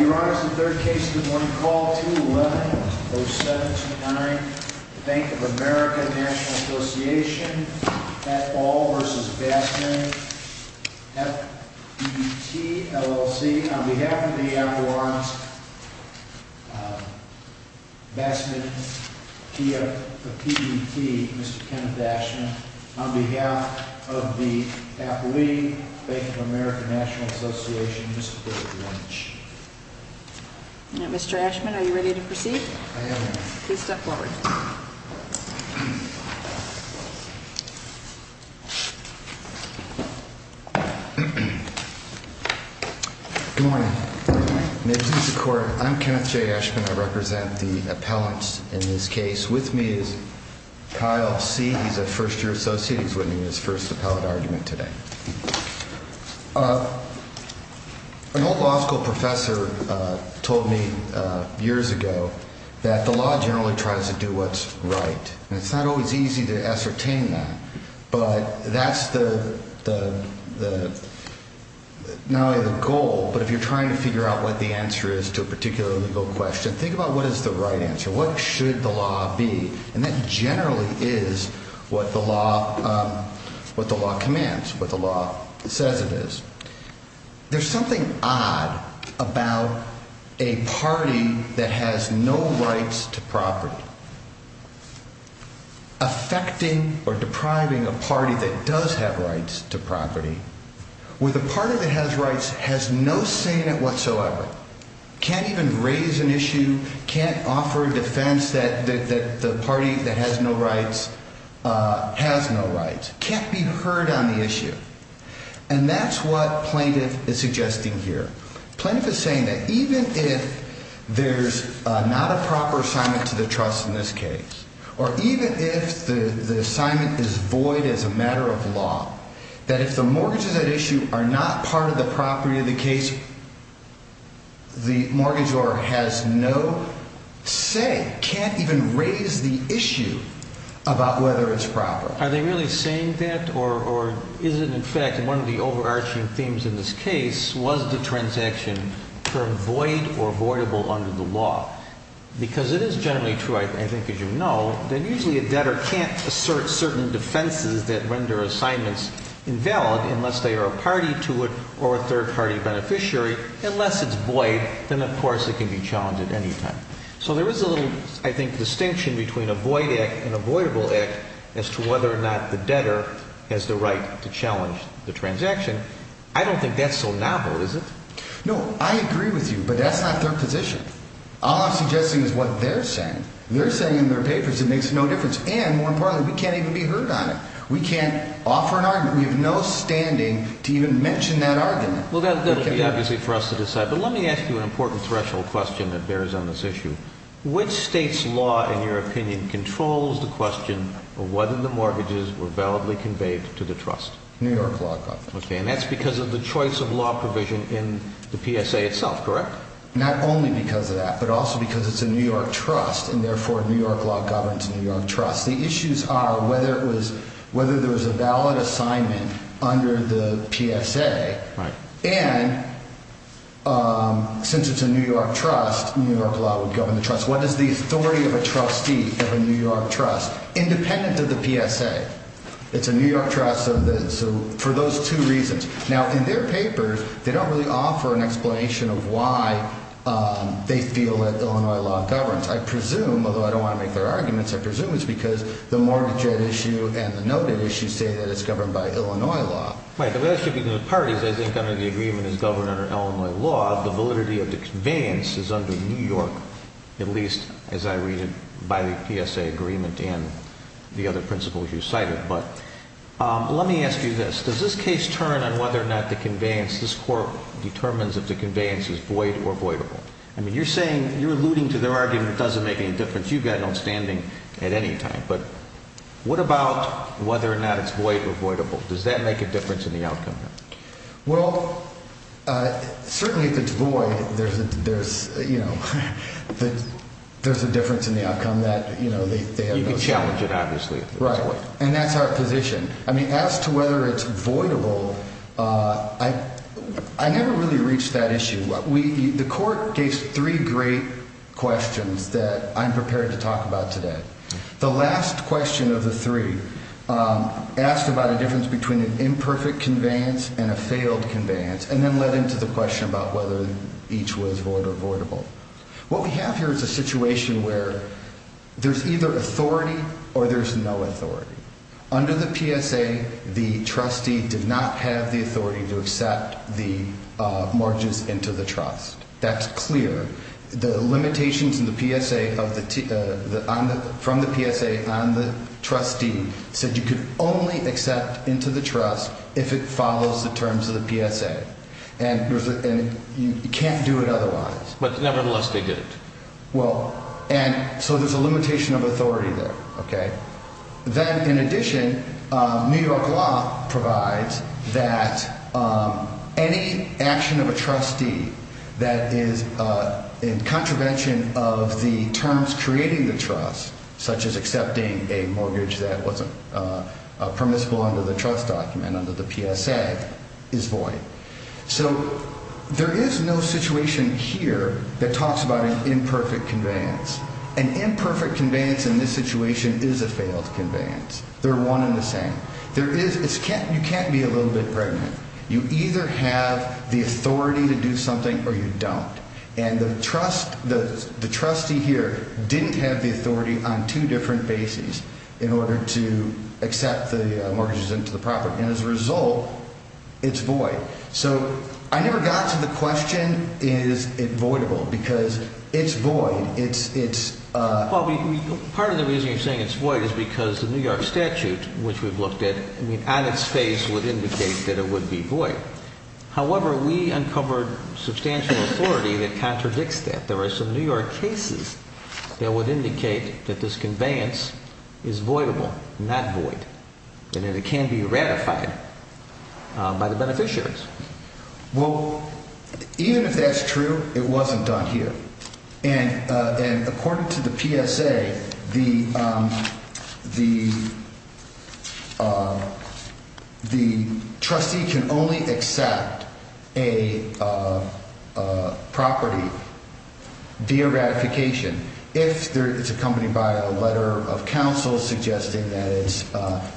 Your Honor, this is the third case of the morning. Call 211-0729 Bank of America N.A. v. Bassman FBT LLC. On behalf of the F. Lawrence Bassman P.F. of PBT, Mr. Kenneth Dashman. On behalf of the F. Lee Bank of America N.A., Mr. David Lynch. Now, Mr. Dashman, are you ready to proceed? I am, Your Honor. Please step forward. Good morning. Names of the court, I'm Kenneth J. Dashman. I represent the appellants in this case. With me is Kyle C. He's a first-year associate. He's winning his first appellate argument today. An old law school professor told me years ago that the law generally tries to do what's right. And it's not always easy to ascertain that. But that's not only the goal, but if you're trying to figure out what the answer is to a particular legal question, think about what is the right answer. What should the law be? And that generally is what the law commands, what the law says it is. There's something odd about a party that has no rights to property. Affecting or depriving a party that does have rights to property with a party that has rights has no say in it whatsoever. Can't even raise an issue, can't offer a defense that the party that has no rights has no rights. Can't be heard on the issue. And that's what plaintiff is suggesting here. Plaintiff is saying that even if there's not a proper assignment to the trust in this case, or even if the assignment is void as a matter of law, that if the mortgages at issue are not part of the property of the case, the mortgage owner has no say, can't even raise the issue about whether it's proper. Are they really saying that, or is it in fact one of the overarching themes in this case, was the transaction termed void or voidable under the law? Because it is generally true, I think, as you know, that usually a debtor can't assert certain defenses that render assignments invalid unless they are a party to it or a third-party beneficiary. Unless it's void, then of course it can be challenged at any time. So there is a little, I think, distinction between a void act and a voidable act as to whether or not the debtor has the right to challenge the transaction. I don't think that's so novel, is it? No, I agree with you, but that's not their position. All I'm suggesting is what they're saying. They're saying in their papers it makes no difference. And, more importantly, we can't even be heard on it. We can't offer an argument. We have no standing to even mention that argument. Well, that will be obviously for us to decide. But let me ask you an important threshold question that bears on this issue. Which state's law, in your opinion, controls the question of whether the mortgages were validly conveyed to the trust? New York law. Okay, and that's because of the choice of law provision in the PSA itself, correct? Not only because of that, but also because it's a New York trust, and therefore New York law governs New York trust. The issues are whether there was a valid assignment under the PSA, and since it's a New York trust, New York law would govern the trust. What is the authority of a trustee of a New York trust independent of the PSA? It's a New York trust for those two reasons. Now, in their papers, they don't really offer an explanation of why they feel that Illinois law governs. I presume, although I don't want to make their arguments, I presume it's because the mortgage issue and the noted issue say that it's governed by Illinois law. Right, but that should be the parties. I think under the agreement it's governed under Illinois law. The validity of the conveyance is under New York, at least as I read it by the PSA agreement and the other principles you cited. Let me ask you this. Does this case turn on whether or not the conveyance, this court determines if the conveyance is void or voidable? I mean, you're saying, you're alluding to their argument it doesn't make any difference. You've got an outstanding at any time. But what about whether or not it's void or voidable? Does that make a difference in the outcome? Well, certainly if it's void, there's a difference in the outcome. You can challenge it, obviously. Right, and that's our position. I mean, as to whether it's voidable, I never really reached that issue. The court gave three great questions that I'm prepared to talk about today. The last question of the three asked about a difference between an imperfect conveyance and a failed conveyance and then led into the question about whether each was void or voidable. What we have here is a situation where there's either authority or there's no authority. Under the PSA, the trustee did not have the authority to accept the margins into the trust. That's clear. The limitations from the PSA on the trustee said you could only accept into the trust if it follows the terms of the PSA. And you can't do it otherwise. But nevertheless, they did it. Well, and so there's a limitation of authority there, okay? Then, in addition, New York law provides that any action of a trustee that is in contravention of the terms creating the trust, such as accepting a mortgage that wasn't permissible under the trust document, under the PSA, is void. So there is no situation here that talks about an imperfect conveyance. An imperfect conveyance in this situation is a failed conveyance. They're one and the same. You can't be a little bit pregnant. You either have the authority to do something or you don't. And the trustee here didn't have the authority on two different bases in order to accept the mortgages into the property. And as a result, it's void. So I never got to the question, is it voidable, because it's void. Part of the reason you're saying it's void is because the New York statute, which we've looked at, on its face would indicate that it would be void. However, we uncovered substantial authority that contradicts that. There are some New York cases that would indicate that this conveyance is voidable, not void, and that it can be ratified by the beneficiaries. Well, even if that's true, it wasn't done here. And according to the PSA, the trustee can only accept a property via ratification if it's accompanied by a letter of counsel suggesting that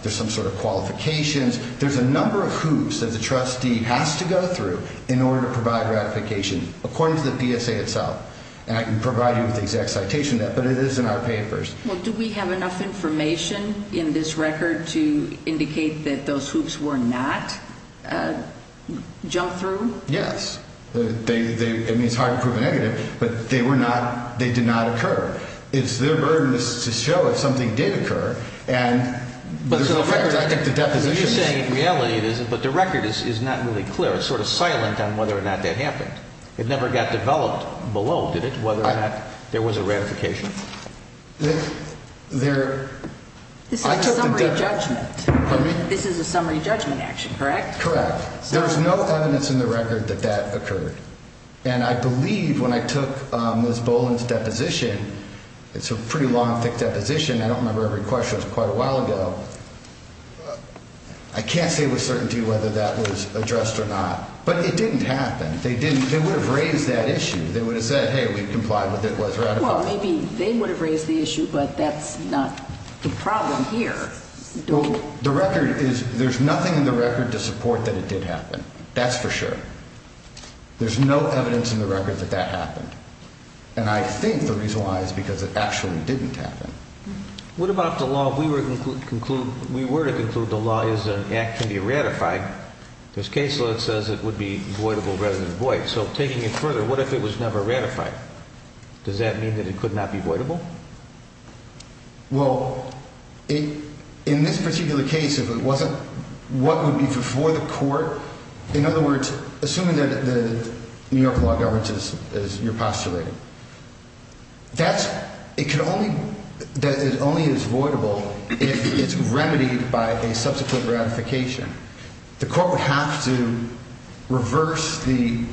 there's some sort of qualifications. There's a number of hoops that the trustee has to go through in order to provide ratification, according to the PSA itself. And I can provide you with the exact citation of that, but it is in our papers. Well, do we have enough information in this record to indicate that those hoops were not jumped through? Yes. I mean, it's hard to prove a negative, but they did not occur. It's their burden to show if something did occur, and there's no fact. So you're saying in reality it isn't, but the record is not really clear. It's sort of silent on whether or not that happened. It never got developed below, did it, whether or not there was a ratification? There – I took the – This is a summary judgment. This is a summary judgment action, correct? Correct. There's no evidence in the record that that occurred. And I believe when I took Ms. Boland's deposition, it's a pretty long, thick deposition. I don't remember every question. It was quite a while ago. I can't say with certainty whether that was addressed or not, but it didn't happen. They didn't – they would have raised that issue. They would have said, hey, we've complied with it, it was ratified. Well, maybe they would have raised the issue, but that's not the problem here. The record is – there's nothing in the record to support that it did happen. That's for sure. There's no evidence in the record that that happened. And I think the reason why is because it actually didn't happen. What about the law? We were to conclude the law is an act to be ratified. This case law says it would be voidable rather than void. So, taking it further, what if it was never ratified? Does that mean that it could not be voidable? Well, in this particular case, if it wasn't what would be before the court – in other words, assuming that the New York law governs, as you're postulating, that's – it could only – that it only is voidable if it's remedied by a subsequent ratification. The court would have to reverse the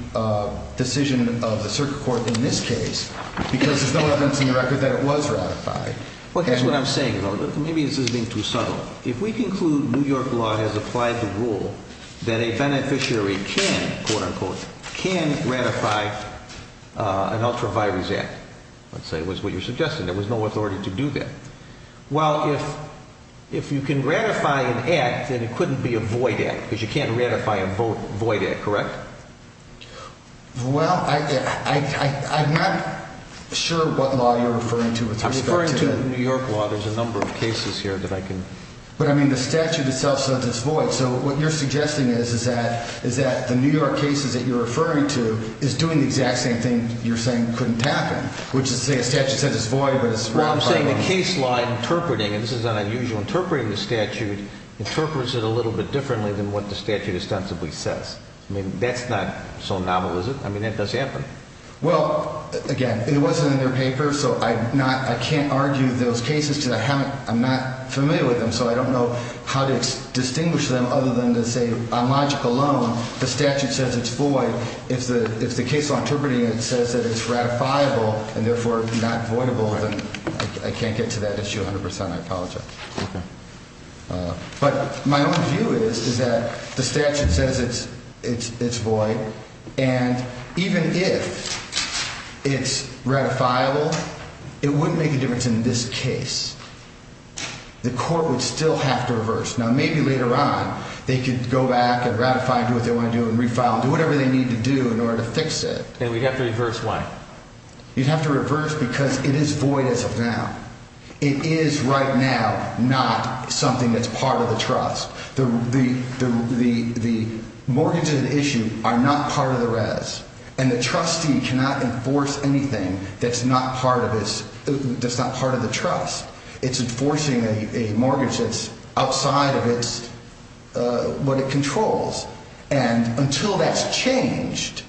decision of the circuit court in this case because there's no evidence in the record that it was ratified. Well, here's what I'm saying, though. Maybe this is being too subtle. If we conclude New York law has applied the rule that a beneficiary can, quote-unquote, can ratify an ultra-virus act, let's say, was what you're suggesting. There was no authority to do that. Well, if you can ratify an act, then it couldn't be a void act because you can't ratify a void act, correct? Well, I'm not sure what law you're referring to with respect to – I'm referring to New York law. There's a number of cases here that I can – But, I mean, the statute itself says it's void. So what you're suggesting is that the New York cases that you're referring to is doing the exact same thing you're saying couldn't happen, which is to say a statute says it's void, but it's – Well, I'm saying the case law interpreting – and this is unusual – interpreting the statute interprets it a little bit differently than what the statute ostensibly says. I mean, that's not so novel, is it? I mean, that does happen. Well, again, it wasn't in their paper, so I'm not – I can't argue those cases because I haven't – other than to say on logic alone, the statute says it's void. If the case law interpreting says that it's ratifiable and therefore not voidable, then I can't get to that issue 100 percent. I apologize. But my own view is that the statute says it's void, and even if it's ratifiable, it wouldn't make a difference in this case. The court would still have to reverse. Now, maybe later on they could go back and ratify and do what they want to do and refile and do whatever they need to do in order to fix it. And we'd have to reverse why? You'd have to reverse because it is void as of now. It is right now not something that's part of the trust. The mortgages at issue are not part of the res, and the trustee cannot enforce anything that's not part of the trust. It's enforcing a mortgage that's outside of what it controls. And until that's changed,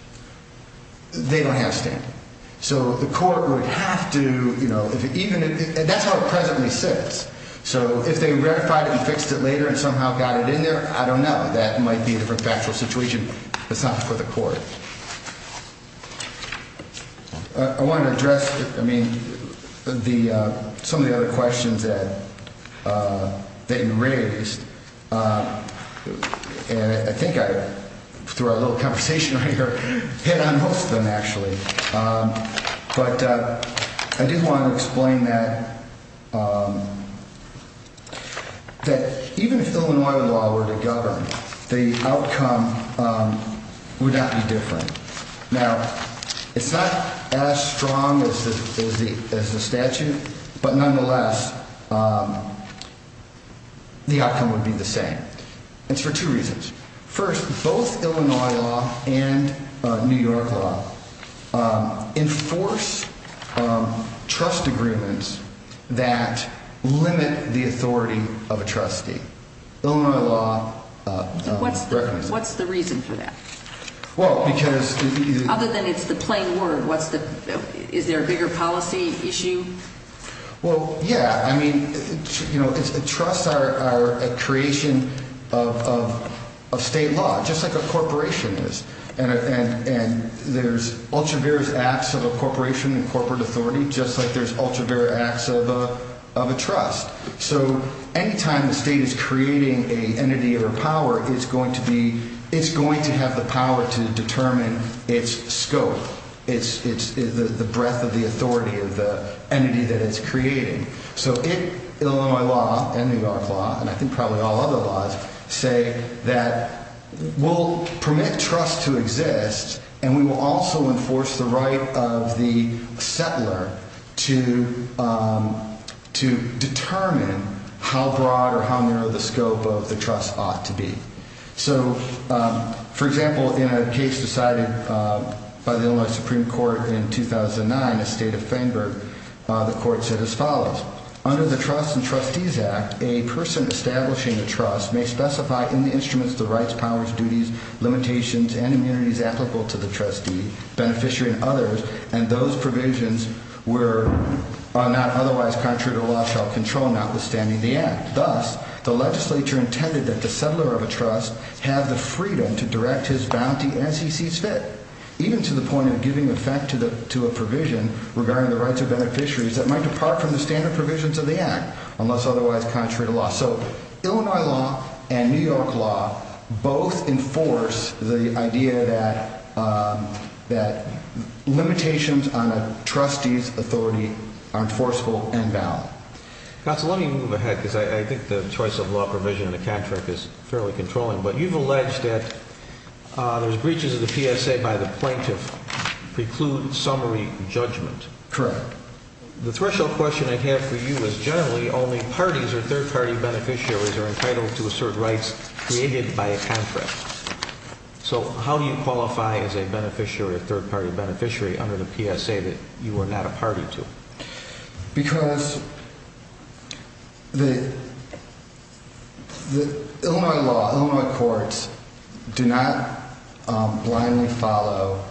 they don't have a stand. So the court would have to, you know, if it even – that's how it presently sits. So if they ratified it and fixed it later and somehow got it in there, I don't know. That might be a different factual situation. It's not for the court. I wanted to address, I mean, some of the other questions that you raised. And I think I threw a little conversation right here, hit on most of them actually. But I did want to explain that even if Illinois law were to govern, the outcome would not be different. Now, it's not as strong as the statute, but nonetheless, the outcome would be the same. It's for two reasons. First, both Illinois law and New York law enforce trust agreements that limit the authority of a trustee. What's the reason for that? Well, because – Other than it's the plain word, what's the – is there a bigger policy issue? Well, yeah. I mean, you know, trusts are a creation of state law, just like a corporation is. And there's ultra-various acts of a corporation and corporate authority, just like there's ultra-various acts of a trust. So anytime the state is creating an entity or a power, it's going to be – it's going to have the power to determine its scope, the breadth of the authority of the entity that it's creating. So Illinois law and New York law, and I think probably all other laws, say that we'll permit trust to exist, and we will also enforce the right of the settler to determine how broad or how narrow the scope of the trust ought to be. So, for example, in a case decided by the Illinois Supreme Court in 2009, a state offender, the court said as follows. Under the Trusts and Trustees Act, a person establishing a trust may specify in the instruments the rights, powers, duties, limitations, and immunities applicable to the trustee, beneficiary, and others, and those provisions are not otherwise contrary to law shall control notwithstanding the act. Thus, the legislature intended that the settler of a trust have the freedom to direct his bounty as he sees fit, even to the point of giving effect to a provision regarding the rights of beneficiaries that might depart from the standard provisions of the act, unless otherwise contrary to law. So Illinois law and New York law both enforce the idea that limitations on a trustee's authority are enforceable and valid. Counsel, let me move ahead because I think the choice of law provision in the contract is fairly controlling, but you've alleged that there's breaches of the PSA by the plaintiff preclude summary judgment. Correct. The threshold question I have for you is generally only parties or third-party beneficiaries are entitled to assert rights created by a contract. So how do you qualify as a beneficiary or third-party beneficiary under the PSA that you are not a party to? Because the Illinois law, Illinois courts do not blindly follow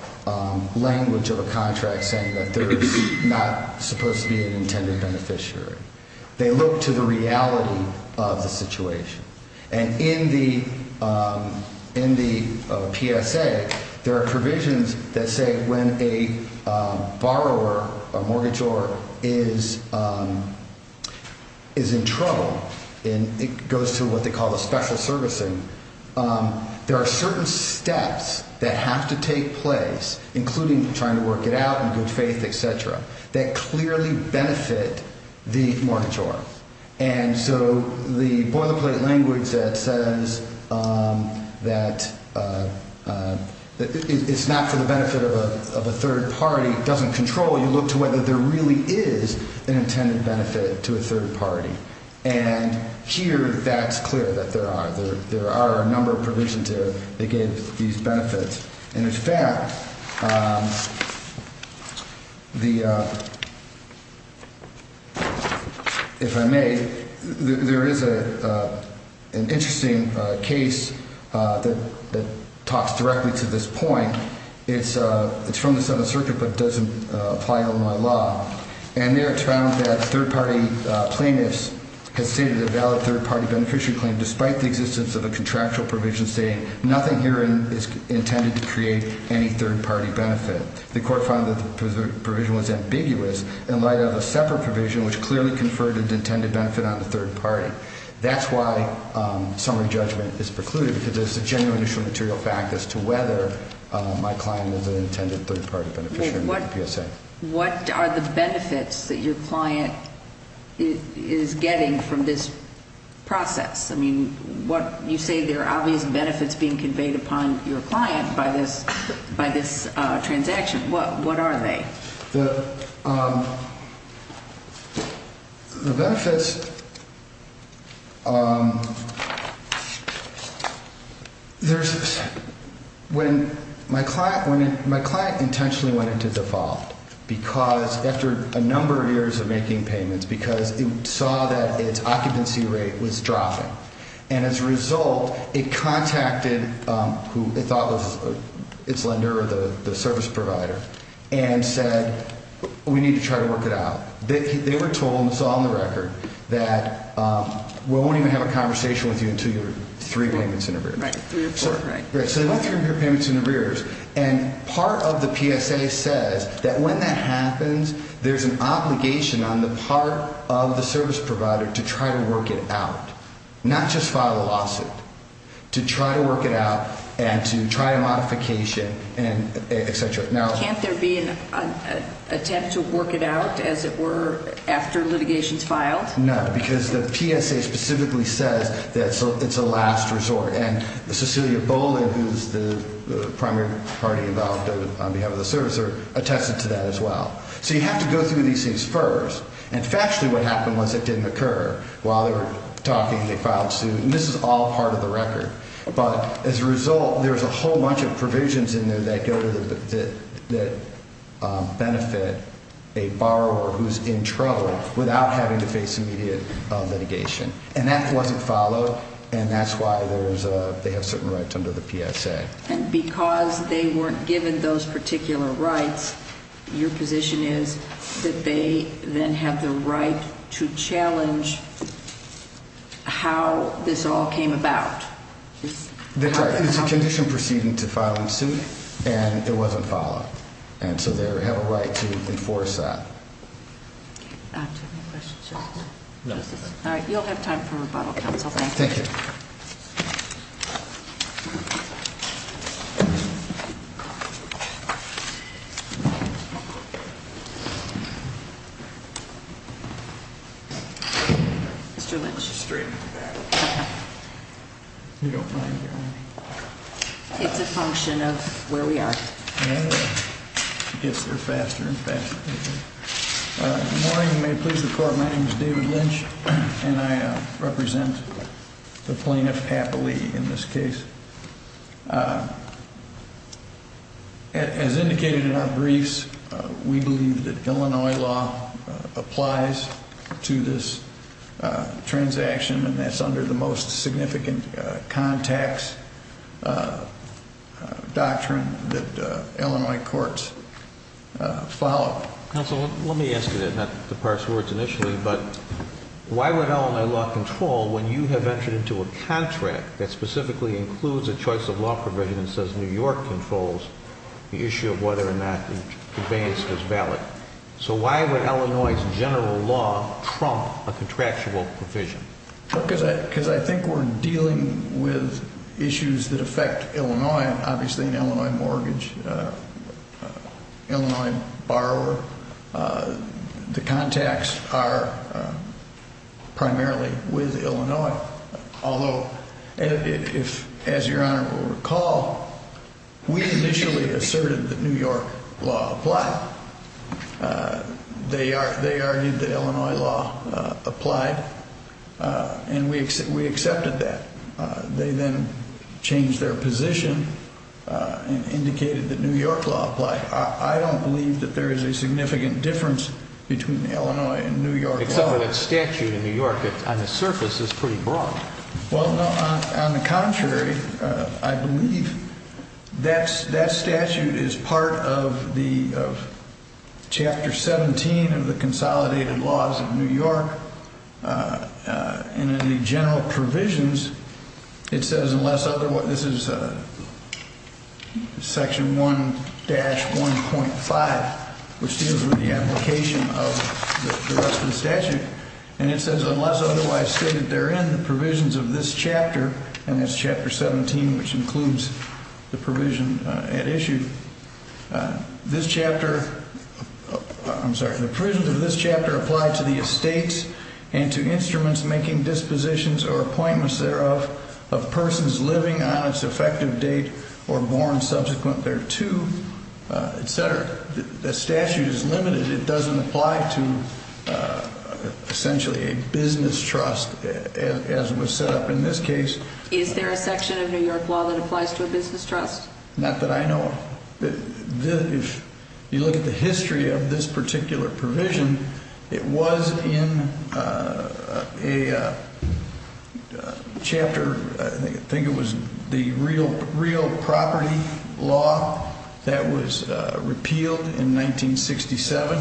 language of a contract saying that there is not supposed to be an intended beneficiary. They look to the reality of the situation. And in the PSA, there are provisions that say when a borrower or mortgagor is in trouble and it goes to what they call a special servicing, there are certain steps that have to take place, including trying to work it out in good faith, et cetera, that clearly benefit the mortgagor. And so the boilerplate language that says that it's not for the benefit of a third party doesn't control. You look to whether there really is an intended benefit to a third party. And here, that's clear that there are. There are a number of provisions there that give these benefits. And in fact, if I may, there is an interesting case that talks directly to this point. It's from the Seventh Circuit, but it doesn't apply to Illinois law. And there it's found that third-party plaintiffs have stated a valid third-party beneficiary claim, despite the existence of a contractual provision stating nothing here is intended to create any third-party benefit. The court found that the provision was ambiguous in light of a separate provision which clearly conferred an intended benefit on the third party. That's why summary judgment is precluded, because it's a genuine issue of material fact as to whether my client is an intended third-party beneficiary in the PSA. What are the benefits that your client is getting from this process? I mean, you say there are obvious benefits being conveyed upon your client by this transaction. What are they? The benefits, there's, when my client, my client intentionally went into default because after a number of years of making payments, because it saw that its occupancy rate was dropping. And as a result, it contacted who it thought was its lender or the service provider and said, we need to try to work it out. They were told, and it's all on the record, that we won't even have a conversation with you until you're three payments in arrears. Right, three or four, right. Right, so you're three payments in arrears, and part of the PSA says that when that happens, there's an obligation on the part of the service provider to try to work it out, not just file a lawsuit, to try to work it out and to try a modification, et cetera. Can't there be an attempt to work it out, as it were, after litigation is filed? No, because the PSA specifically says that it's a last resort. And Cecilia Boland, who's the primary party involved on behalf of the service, attested to that as well. So you have to go through these things first. And factually, what happened was it didn't occur. While they were talking, they filed suit, and this is all part of the record. But as a result, there's a whole bunch of provisions in there that go to the, that benefit a borrower who's in trouble without having to face immediate litigation. And that wasn't followed, and that's why there's a, they have certain rights under the PSA. And because they weren't given those particular rights, your position is that they then have the right to challenge how this all came about? It's a condition proceeding to filing suit, and it wasn't followed. And so they have a right to enforce that. Do you have any questions? No. All right. You'll have time for rebuttal, counsel. Thank you. Thank you. Mr. Lynch. Straight in the back. You don't mind hearing me? It's a function of where we are. I guess we're faster and faster. Good morning. May it please the court. My name is David Lynch, and I represent the plaintiff happily in this case. As indicated in our briefs, we believe that Illinois law applies to this transaction, and that's under the most significant contacts doctrine that Illinois courts follow. Counsel, let me ask you that, not to parse words initially, but why would Illinois law control when you have entered into a contract that specifically includes a choice of law provision and says New York controls the issue of whether or not the advance is valid? So why would Illinois' general law trump a contractual provision? Because I think we're dealing with issues that affect Illinois, obviously an Illinois mortgage, Illinois borrower. The contacts are primarily with Illinois. Although, as Your Honor will recall, we initially asserted that New York law applied. They argued that Illinois law applied, and we accepted that. They then changed their position and indicated that New York law applied. I don't believe that there is a significant difference between Illinois and New York law. Except for that statute in New York that, on the surface, is pretty broad. Well, no, on the contrary, I believe that statute is part of Chapter 17 of the Consolidated Laws of New York. And in the general provisions, it says unless otherwise – this is Section 1-1.5, which deals with the application of the rest of the statute. And it says unless otherwise stated therein, the provisions of this chapter – and that's Chapter 17, which includes the provision at issue. This chapter – I'm sorry. The provisions of this chapter apply to the estates and to instruments making dispositions or appointments thereof of persons living on its effective date or born subsequent thereto, etc. The statute is limited. It doesn't apply to, essentially, a business trust as was set up in this case. Is there a section of New York law that applies to a business trust? Not that I know of. If you look at the history of this particular provision, it was in a chapter – I think it was the real property law that was repealed in 1967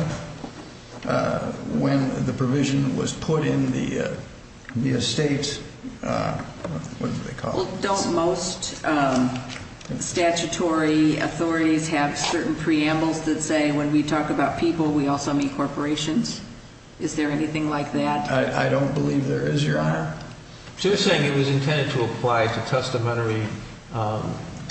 when the provision was put in the estate – what do they call it? Don't most statutory authorities have certain preambles that say when we talk about people, we also mean corporations? Is there anything like that? I don't believe there is, Your Honor. So you're saying it was intended to apply to testamentary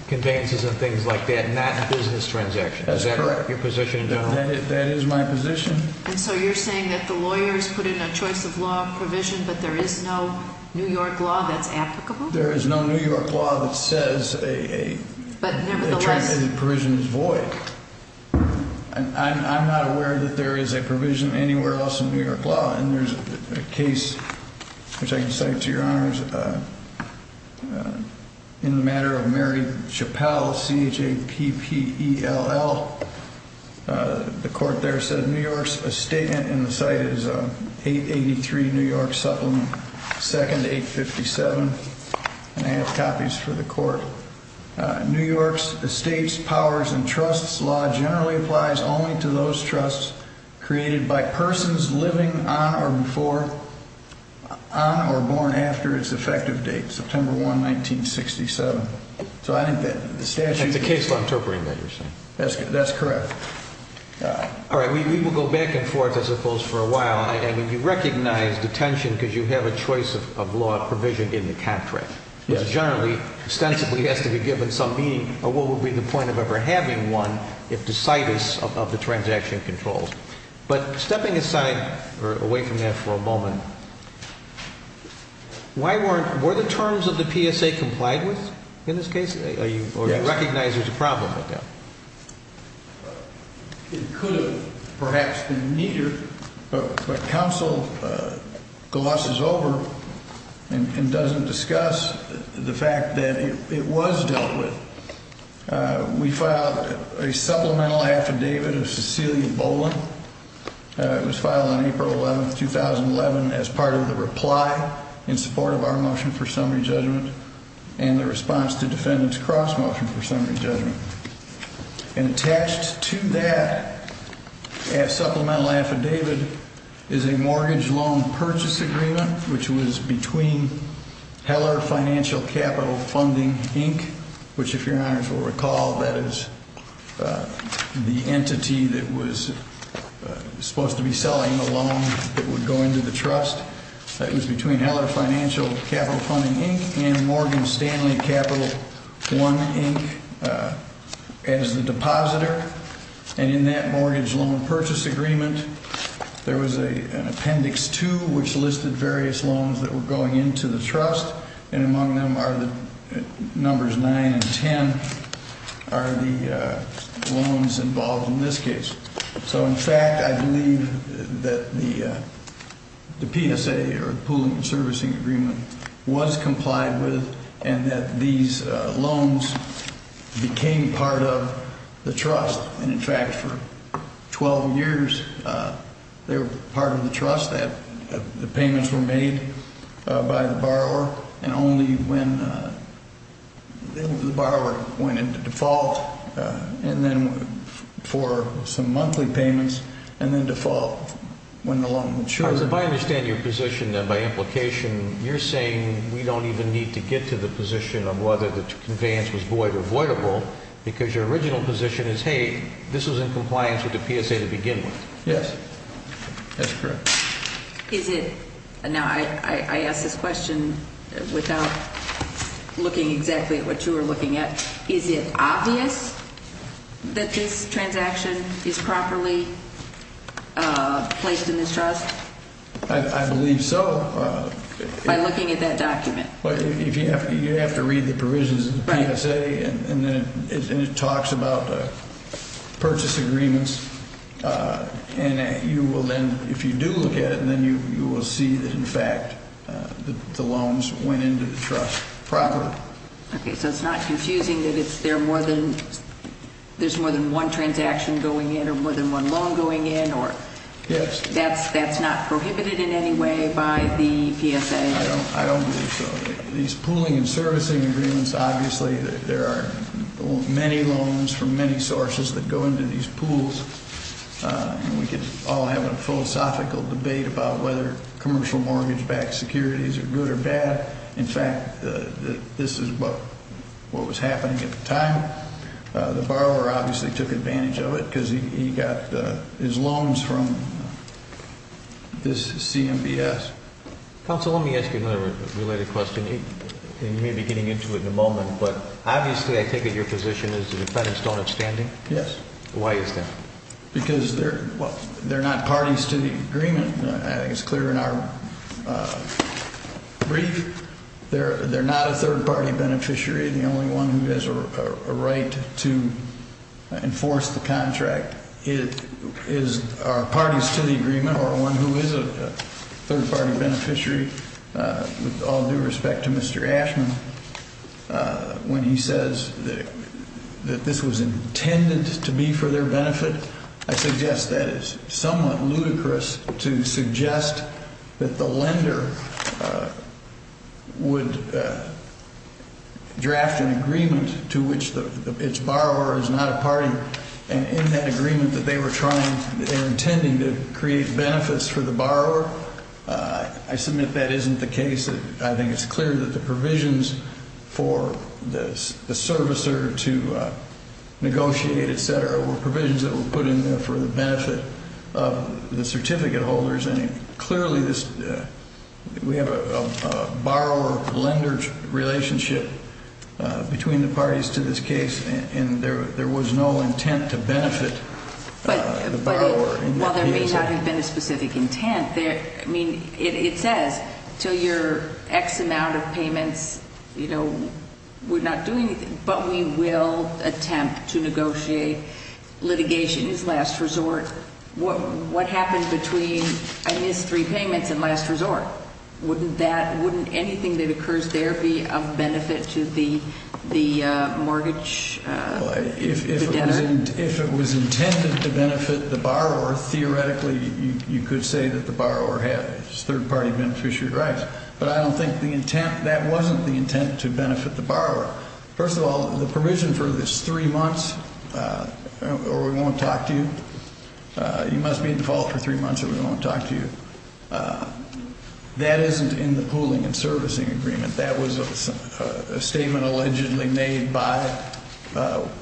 conveyances and things like that, not business transactions? That's correct. Is that your position in general? That is my position. And so you're saying that the lawyers put in a choice of law provision, but there is no New York law that's applicable? There is no New York law that says a transacted provision is void. I'm not aware that there is a provision anywhere else in New York law. And there's a case, which I can cite to Your Honors, in the matter of Mary Chappelle, C-H-A-P-P-E-L-L. The court there said New York's estate – and the site is 883 New York Supplement, second 857. And I have copies for the court. New York's estates, powers, and trusts law generally applies only to those trusts created by persons living on or before – on or born after its effective date, September 1, 1967. So I think that the statute – That's a case law interpreting that you're saying? That's correct. All right. We will go back and forth, I suppose, for a while. I mean, you recognize detention because you have a choice of law provision in the contract. Yes. Which generally, ostensibly, has to be given some meaning. Or what would be the point of ever having one if the site is – of the transaction controls? But stepping aside, or away from that for a moment, why weren't – were the terms of the PSA complied with in this case? Yes. I recognize there's a problem with that. It could have perhaps been neater, but counsel glosses over and doesn't discuss the fact that it was dealt with. We filed a supplemental affidavit of Cecilia Boland. It was filed on April 11, 2011, as part of the reply in support of our motion for summary judgment and the response to defendant's cross-motion for summary judgment. And attached to that supplemental affidavit is a mortgage loan purchase agreement, which was between Heller Financial Capital Funding, Inc., which, if your honors will recall, that is the entity that was supposed to be selling the loan that would go into the trust. It was between Heller Financial Capital Funding, Inc. and Morgan Stanley Capital I, Inc., as the depositor. And in that mortgage loan purchase agreement, there was an appendix 2, which listed various loans that were going into the trust. And among them are the numbers 9 and 10 are the loans involved in this case. So, in fact, I believe that the PSA, or the Pullman Servicing Agreement, was complied with and that these loans became part of the trust. And, in fact, for 12 years, they were part of the trust. The payments were made by the borrower, and only when the borrower went into default, and then for some monthly payments, and then default when the loan matured. If I understand your position, then, by implication, you're saying we don't even need to get to the position of whether the conveyance was void or voidable, because your original position is, hey, this was in compliance with the PSA to begin with. Yes. That's correct. Is it – now, I ask this question without looking exactly at what you were looking at. Is it obvious that this transaction is properly placed in this trust? I believe so. By looking at that document. You have to read the provisions of the PSA, and it talks about purchase agreements. And you will then – if you do look at it, then you will see that, in fact, the loans went into the trust properly. Okay. So it's not confusing that it's – there are more than – there's more than one transaction going in or more than one loan going in or – Yes. That's not prohibited in any way by the PSA? I don't believe so. These pooling and servicing agreements, obviously, there are many loans from many sources that go into these pools. And we could all have a philosophical debate about whether commercial mortgage-backed securities are good or bad. In fact, this is what was happening at the time. The borrower obviously took advantage of it because he got his loans from this CMBS. Counsel, let me ask you another related question. You may be getting into it in a moment, but obviously I take it your position is the defendants don't have standing? Yes. Why is that? Because they're not parties to the agreement. I think it's clear in our brief. They're not a third-party beneficiary. The only one who has a right to enforce the contract is – are parties to the agreement or one who is a third-party beneficiary. With all due respect to Mr. Ashman, when he says that this was intended to be for their benefit, I suggest that is somewhat ludicrous to suggest that the lender would draft an agreement to which its borrower is not a party. In that agreement, they were trying – they were intending to create benefits for the borrower. I submit that isn't the case. I think it's clear that the provisions for the servicer to negotiate, etc., were provisions that were put in there for the benefit of the certificate holders. Clearly this – we have a borrower-lender relationship between the parties to this case, and there was no intent to benefit the borrower in that case. Well, there may not have been a specific intent. I mean, it says until your X amount of payments, you know, we're not doing anything, but we will attempt to negotiate litigation. It's last resort. What happens between I missed three payments and last resort? Wouldn't that – wouldn't anything that occurs there be of benefit to the mortgage debtor? If it was intended to benefit the borrower, theoretically you could say that the borrower had his third-party beneficiary rights. But I don't think the intent – that wasn't the intent to benefit the borrower. First of all, the provision for this three months or we won't talk to you, you must be in default for three months or we won't talk to you, that isn't in the pooling and servicing agreement. That was a statement allegedly made by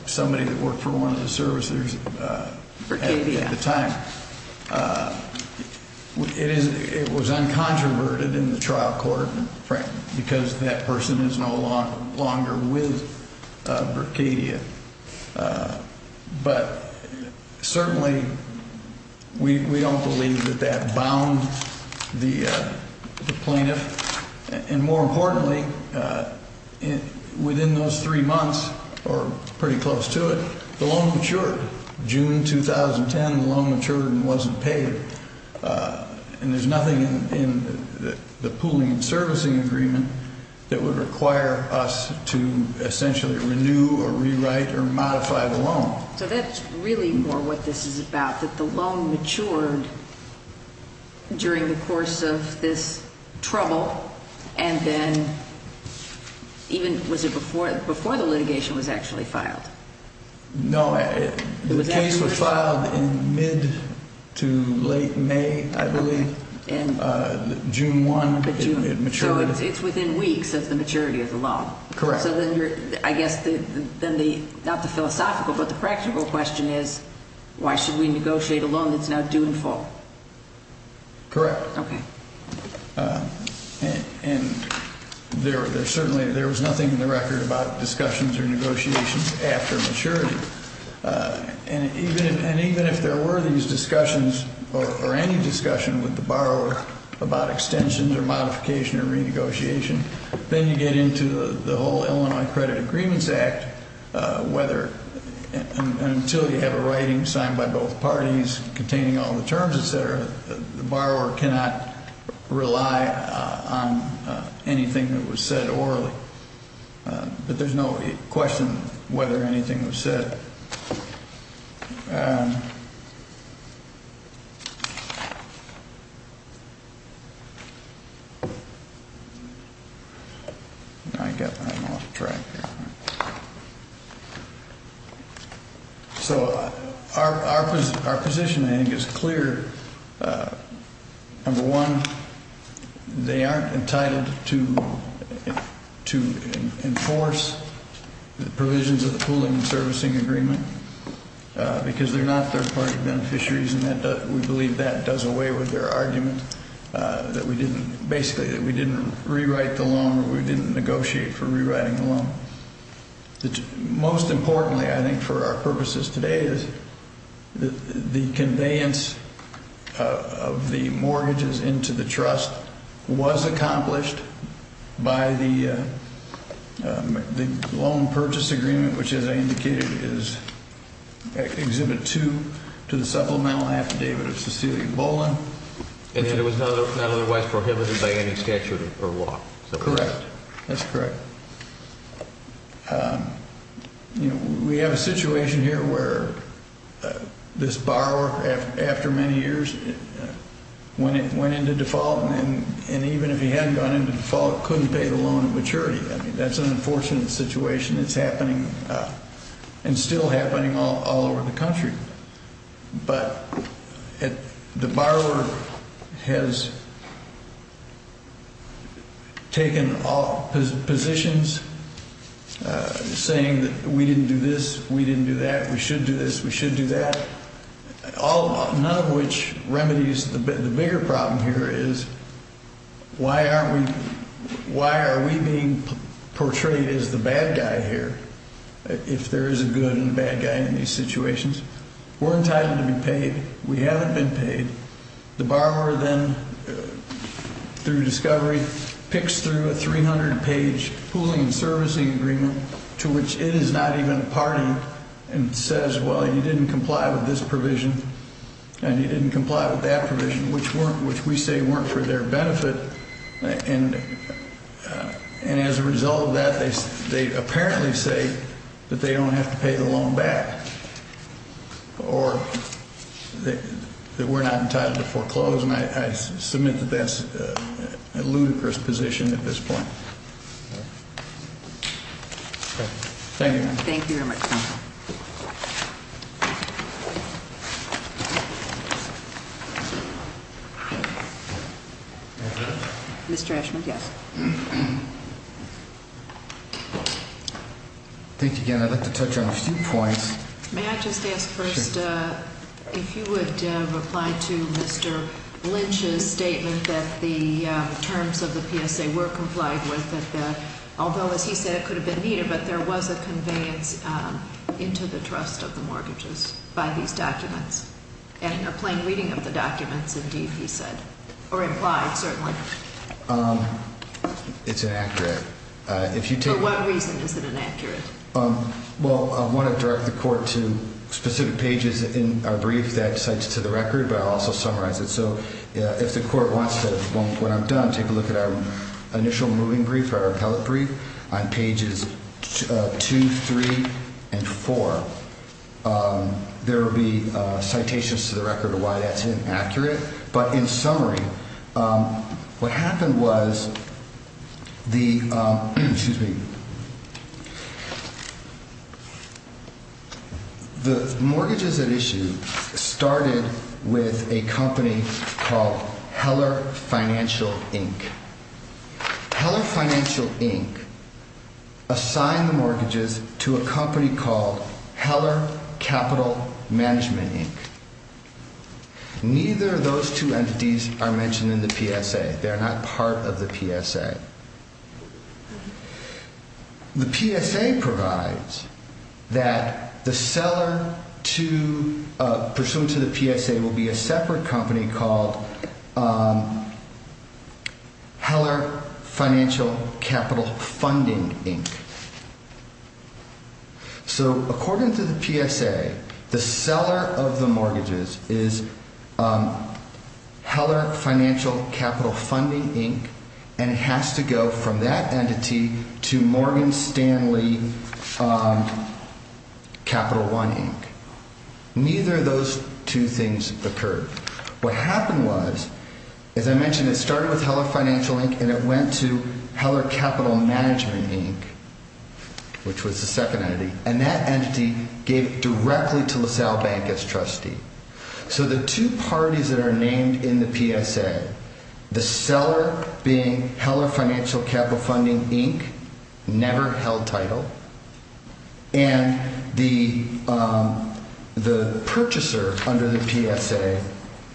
somebody that worked for one of the servicers at the time. It is – it was uncontroverted in the trial court frame because that person is no longer with Brickadia. But certainly we don't believe that that bound the plaintiff. And more importantly, within those three months or pretty close to it, the loan matured. June 2010, the loan matured and wasn't paid. And there's nothing in the pooling and servicing agreement that would require us to essentially renew or rewrite or modify the loan. So that's really more what this is about, that the loan matured during the course of this trouble and then even – was it before the litigation was actually filed? No, the case was filed in mid to late May, I believe. June 1, it matured. So it's within weeks of the maturity of the loan. Correct. So then you're – I guess then the – not the philosophical, but the practical question is, why should we negotiate a loan that's now due in full? Correct. Okay. And there certainly – there was nothing in the record about discussions or negotiations after maturity. And even if there were these discussions or any discussion with the borrower about extensions or modification or renegotiation, then you get into the whole Illinois Credit Agreements Act, whether –– anything that was said orally. But there's no question whether anything was said. I got – I'm off track here. So our positioning is clear. Number one, they aren't entitled to enforce the provisions of the pooling and servicing agreement because they're not third-party beneficiaries, and we believe that does away with their argument that we didn't – basically that we didn't rewrite the loan or we didn't negotiate for rewriting the loan. Most importantly, I think, for our purposes today is the conveyance of the mortgages into the trust was accomplished by the loan purchase agreement, which, as I indicated, is Exhibit 2 to the supplemental affidavit of Cecilia Boland. And it was not otherwise prohibited by any statute or law. Correct. That's correct. You know, we have a situation here where this borrower, after many years, went into default, and even if he hadn't gone into default, couldn't pay the loan at maturity. I mean, that's an unfortunate situation that's happening and still happening all over the country. But the borrower has taken positions saying that we didn't do this, we didn't do that, we should do this, we should do that, none of which remedies the bigger problem here is why are we being portrayed as the bad guy here if there is a good and bad guy in these situations. We're entitled to be paid. We haven't been paid. The borrower then, through discovery, picks through a 300-page pooling and servicing agreement to which it is not even a party and says, well, you didn't comply with this provision and you didn't comply with that provision, which we say weren't for their benefit. And as a result of that, they apparently say that they don't have to pay the loan back or that we're not entitled to foreclose, and I submit that that's a ludicrous position at this point. Thank you. Thank you very much, counsel. Mr. Ashman? Yes. Thank you again. I'd like to touch on a few points. May I just ask first if you would reply to Mr. Lynch's statement that the terms of the PSA were complied with, that although, as he said, it could have been neater, but there was a conveyance into the trust of the mortgages by these documents and a plain reading of the documents, indeed, he said, or implied, certainly. It's inaccurate. For what reason is it inaccurate? Well, I want to direct the Court to specific pages in our brief that cites to the record, but I'll also summarize it. So if the Court wants to, when I'm done, take a look at our initial moving brief, our appellate brief, on pages 2, 3, and 4, there will be citations to the record of why that's inaccurate. But in summary, what happened was the mortgages at issue started with a company called Heller Financial, Inc. Heller Financial, Inc. assigned the mortgages to a company called Heller Capital Management, Inc. Neither of those two entities are mentioned in the PSA. They are not part of the PSA. The PSA provides that the seller pursuant to the PSA will be a separate company called Heller Financial Capital Funding, Inc. So according to the PSA, the seller of the mortgages is Heller Financial Capital Funding, Inc., and it has to go from that entity to Morgan Stanley Capital One, Inc. Neither of those two things occurred. What happened was, as I mentioned, it started with Heller Financial, Inc., and it went to Heller Capital Management, Inc., which was the second entity, and that entity gave directly to LaSalle Bank as trustee. So the two parties that are named in the PSA, the seller being Heller Financial Capital Funding, Inc., never held title, and the purchaser under the PSA,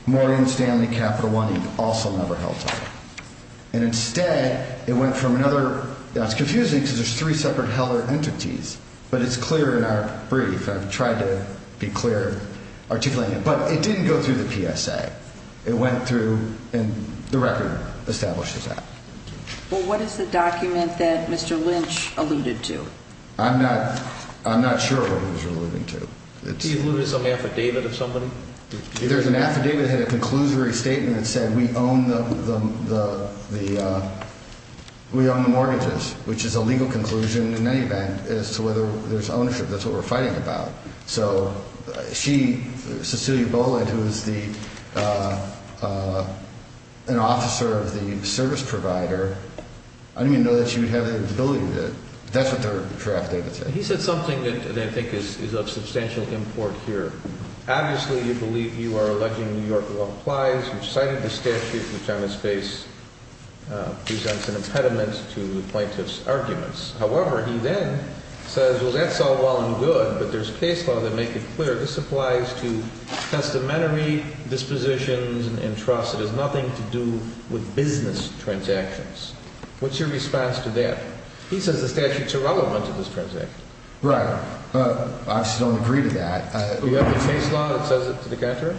Morgan Stanley Capital One, Inc., also never held title. And instead, it went from another – now it's confusing because there's three separate Heller entities, but it's clear in our brief. I've tried to be clear articulating it, but it didn't go through the PSA. It went through and the record establishes that. Well, what is the document that Mr. Lynch alluded to? I'm not sure what he was alluding to. He alluded to some affidavit of somebody? There's an affidavit that had a conclusory statement that said we own the mortgages, which is a legal conclusion in any event as to whether there's ownership. That's what we're fighting about. So she, Cecilia Boland, who is an officer of the service provider, I didn't even know that she would have the ability to do it. That's what the draft affidavit said. He said something that I think is of substantial import here. Obviously, you believe you are alleging New York law applies. You've cited the statute, which on its face presents an impediment to the plaintiff's arguments. However, he then says, well, that's all well and good, but there's case law that make it clear. This applies to testamentary dispositions and trust. It has nothing to do with business transactions. What's your response to that? He says the statute's irrelevant to this transaction. Right. I just don't agree to that. You have the case law that says it to the contrary?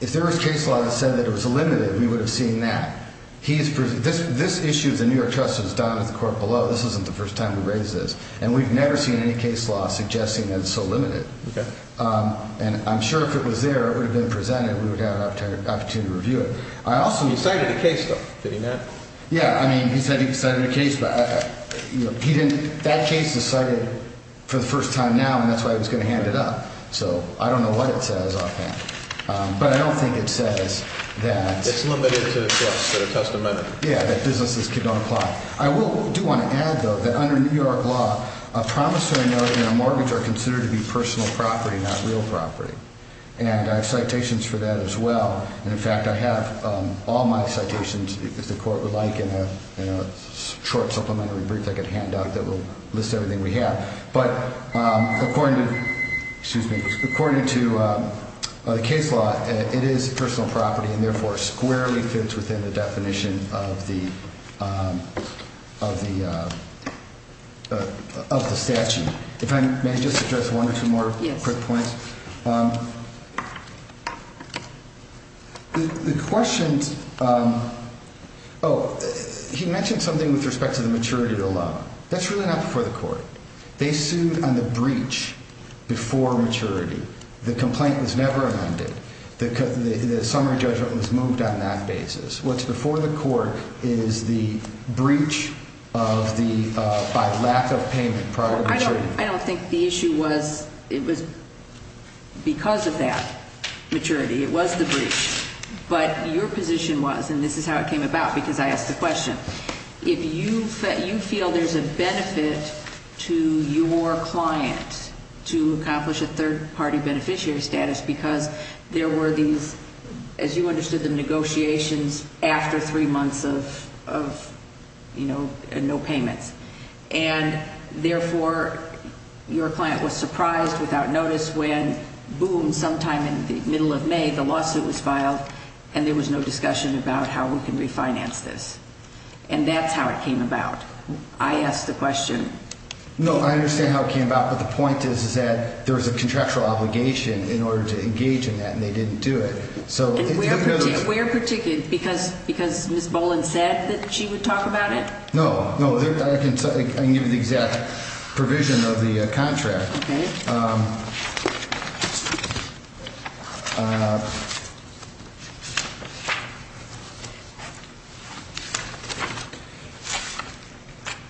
If there was case law that said that it was illimited, we would have seen that. This issue of the New York trust is down at the court below. This isn't the first time we've raised this. And we've never seen any case law suggesting that it's so limited. Okay. And I'm sure if it was there, it would have been presented. We would have had an opportunity to review it. He cited a case, though, fitting that. Yeah. I mean, he said he cited a case, but he didn't. That case is cited for the first time now, and that's why he was going to hand it up. So I don't know what it says offhand. But I don't think it says that. It's limited to the trust amendment. Yeah, that businesses could not apply. I do want to add, though, that under New York law, a promissory note and a mortgage are considered to be personal property, not real property. And I have citations for that as well. And, in fact, I have all my citations, if the court would like, in a short supplementary brief I could hand out that will list everything we have. But according to the case law, it is personal property and, therefore, squarely fits within the definition of the statute. If I may just address one or two more quick points. Yes. The questions ‑‑ oh, he mentioned something with respect to the maturity of the loan. That's really not before the court. They sued on the breach before maturity. The complaint was never amended. The summary judgment was moved on that basis. What's before the court is the breach of the ‑‑ by lack of payment prior to maturity. I don't think the issue was ‑‑ it was because of that maturity. It was the breach. But your position was, and this is how it came about because I asked the question. If you feel there's a benefit to your client to accomplish a third‑party beneficiary status because there were these, as you understood them, negotiations after three months of, you know, no payments. And, therefore, your client was surprised without notice when, boom, sometime in the middle of May, the lawsuit was filed and there was no discussion about how we can refinance this. And that's how it came about. I asked the question. No, I understand how it came about. But the point is that there was a contractual obligation in order to engage in that, and they didn't do it. Where particular? Because Ms. Boland said that she would talk about it? No. I can give you the exact provision of the contract. Okay.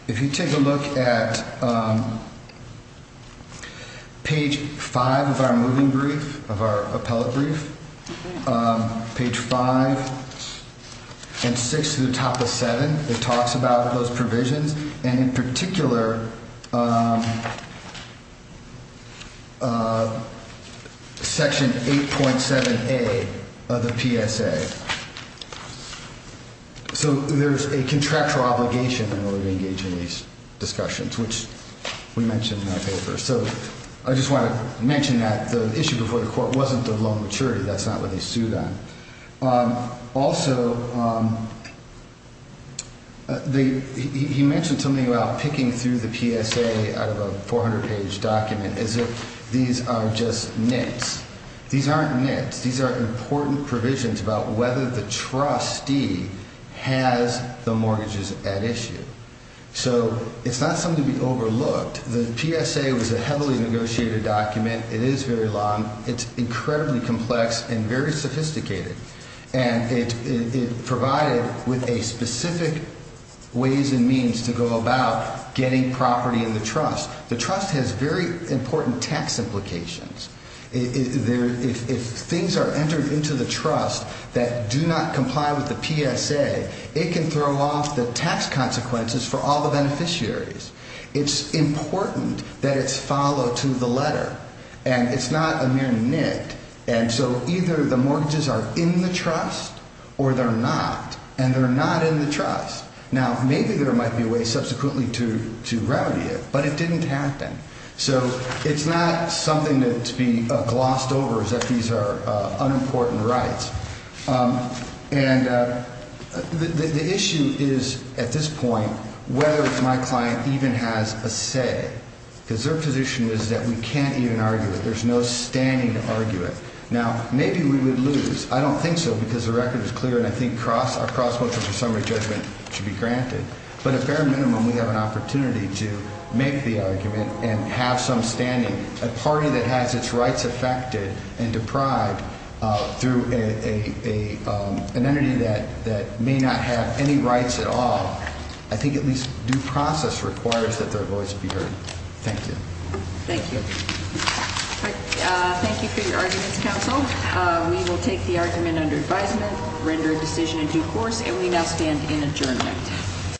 If you take a look at page 5 of our moving brief, of our appellate brief, page 5 and 6 to the top of 7, it talks about those provisions. And, in particular, section 8.7A of the PSA. So there's a contractual obligation in order to engage in these discussions, which we mentioned in our paper. So I just want to mention that the issue before the court wasn't the loan maturity. That's not what they sued on. Also, he mentioned something about picking through the PSA out of a 400-page document as if these are just nits. These aren't nits. These are important provisions about whether the trustee has the mortgages at issue. So it's not something to be overlooked. The PSA was a heavily negotiated document. It is very long. It's incredibly complex and very sophisticated. And it provided with a specific ways and means to go about getting property in the trust. The trust has very important tax implications. If things are entered into the trust that do not comply with the PSA, it can throw off the tax consequences for all the beneficiaries. It's important that it's followed to the letter. And it's not a mere nit. And so either the mortgages are in the trust or they're not, and they're not in the trust. Now, maybe there might be a way subsequently to rowdy it, but it didn't happen. So it's not something to be glossed over as if these are unimportant rights. And the issue is, at this point, whether my client even has a say, because their position is that we can't even argue it. There's no standing to argue it. Now, maybe we would lose. I don't think so, because the record is clear, and I think our cross-cultural summary judgment should be granted. But at bare minimum, we have an opportunity to make the argument and have some standing. A party that has its rights affected and deprived through an entity that may not have any rights at all, I think at least due process requires that their voice be heard. Thank you. Thank you. Thank you for your arguments, counsel. We will take the argument under advisement, render a decision in due course, and we now stand in adjournment.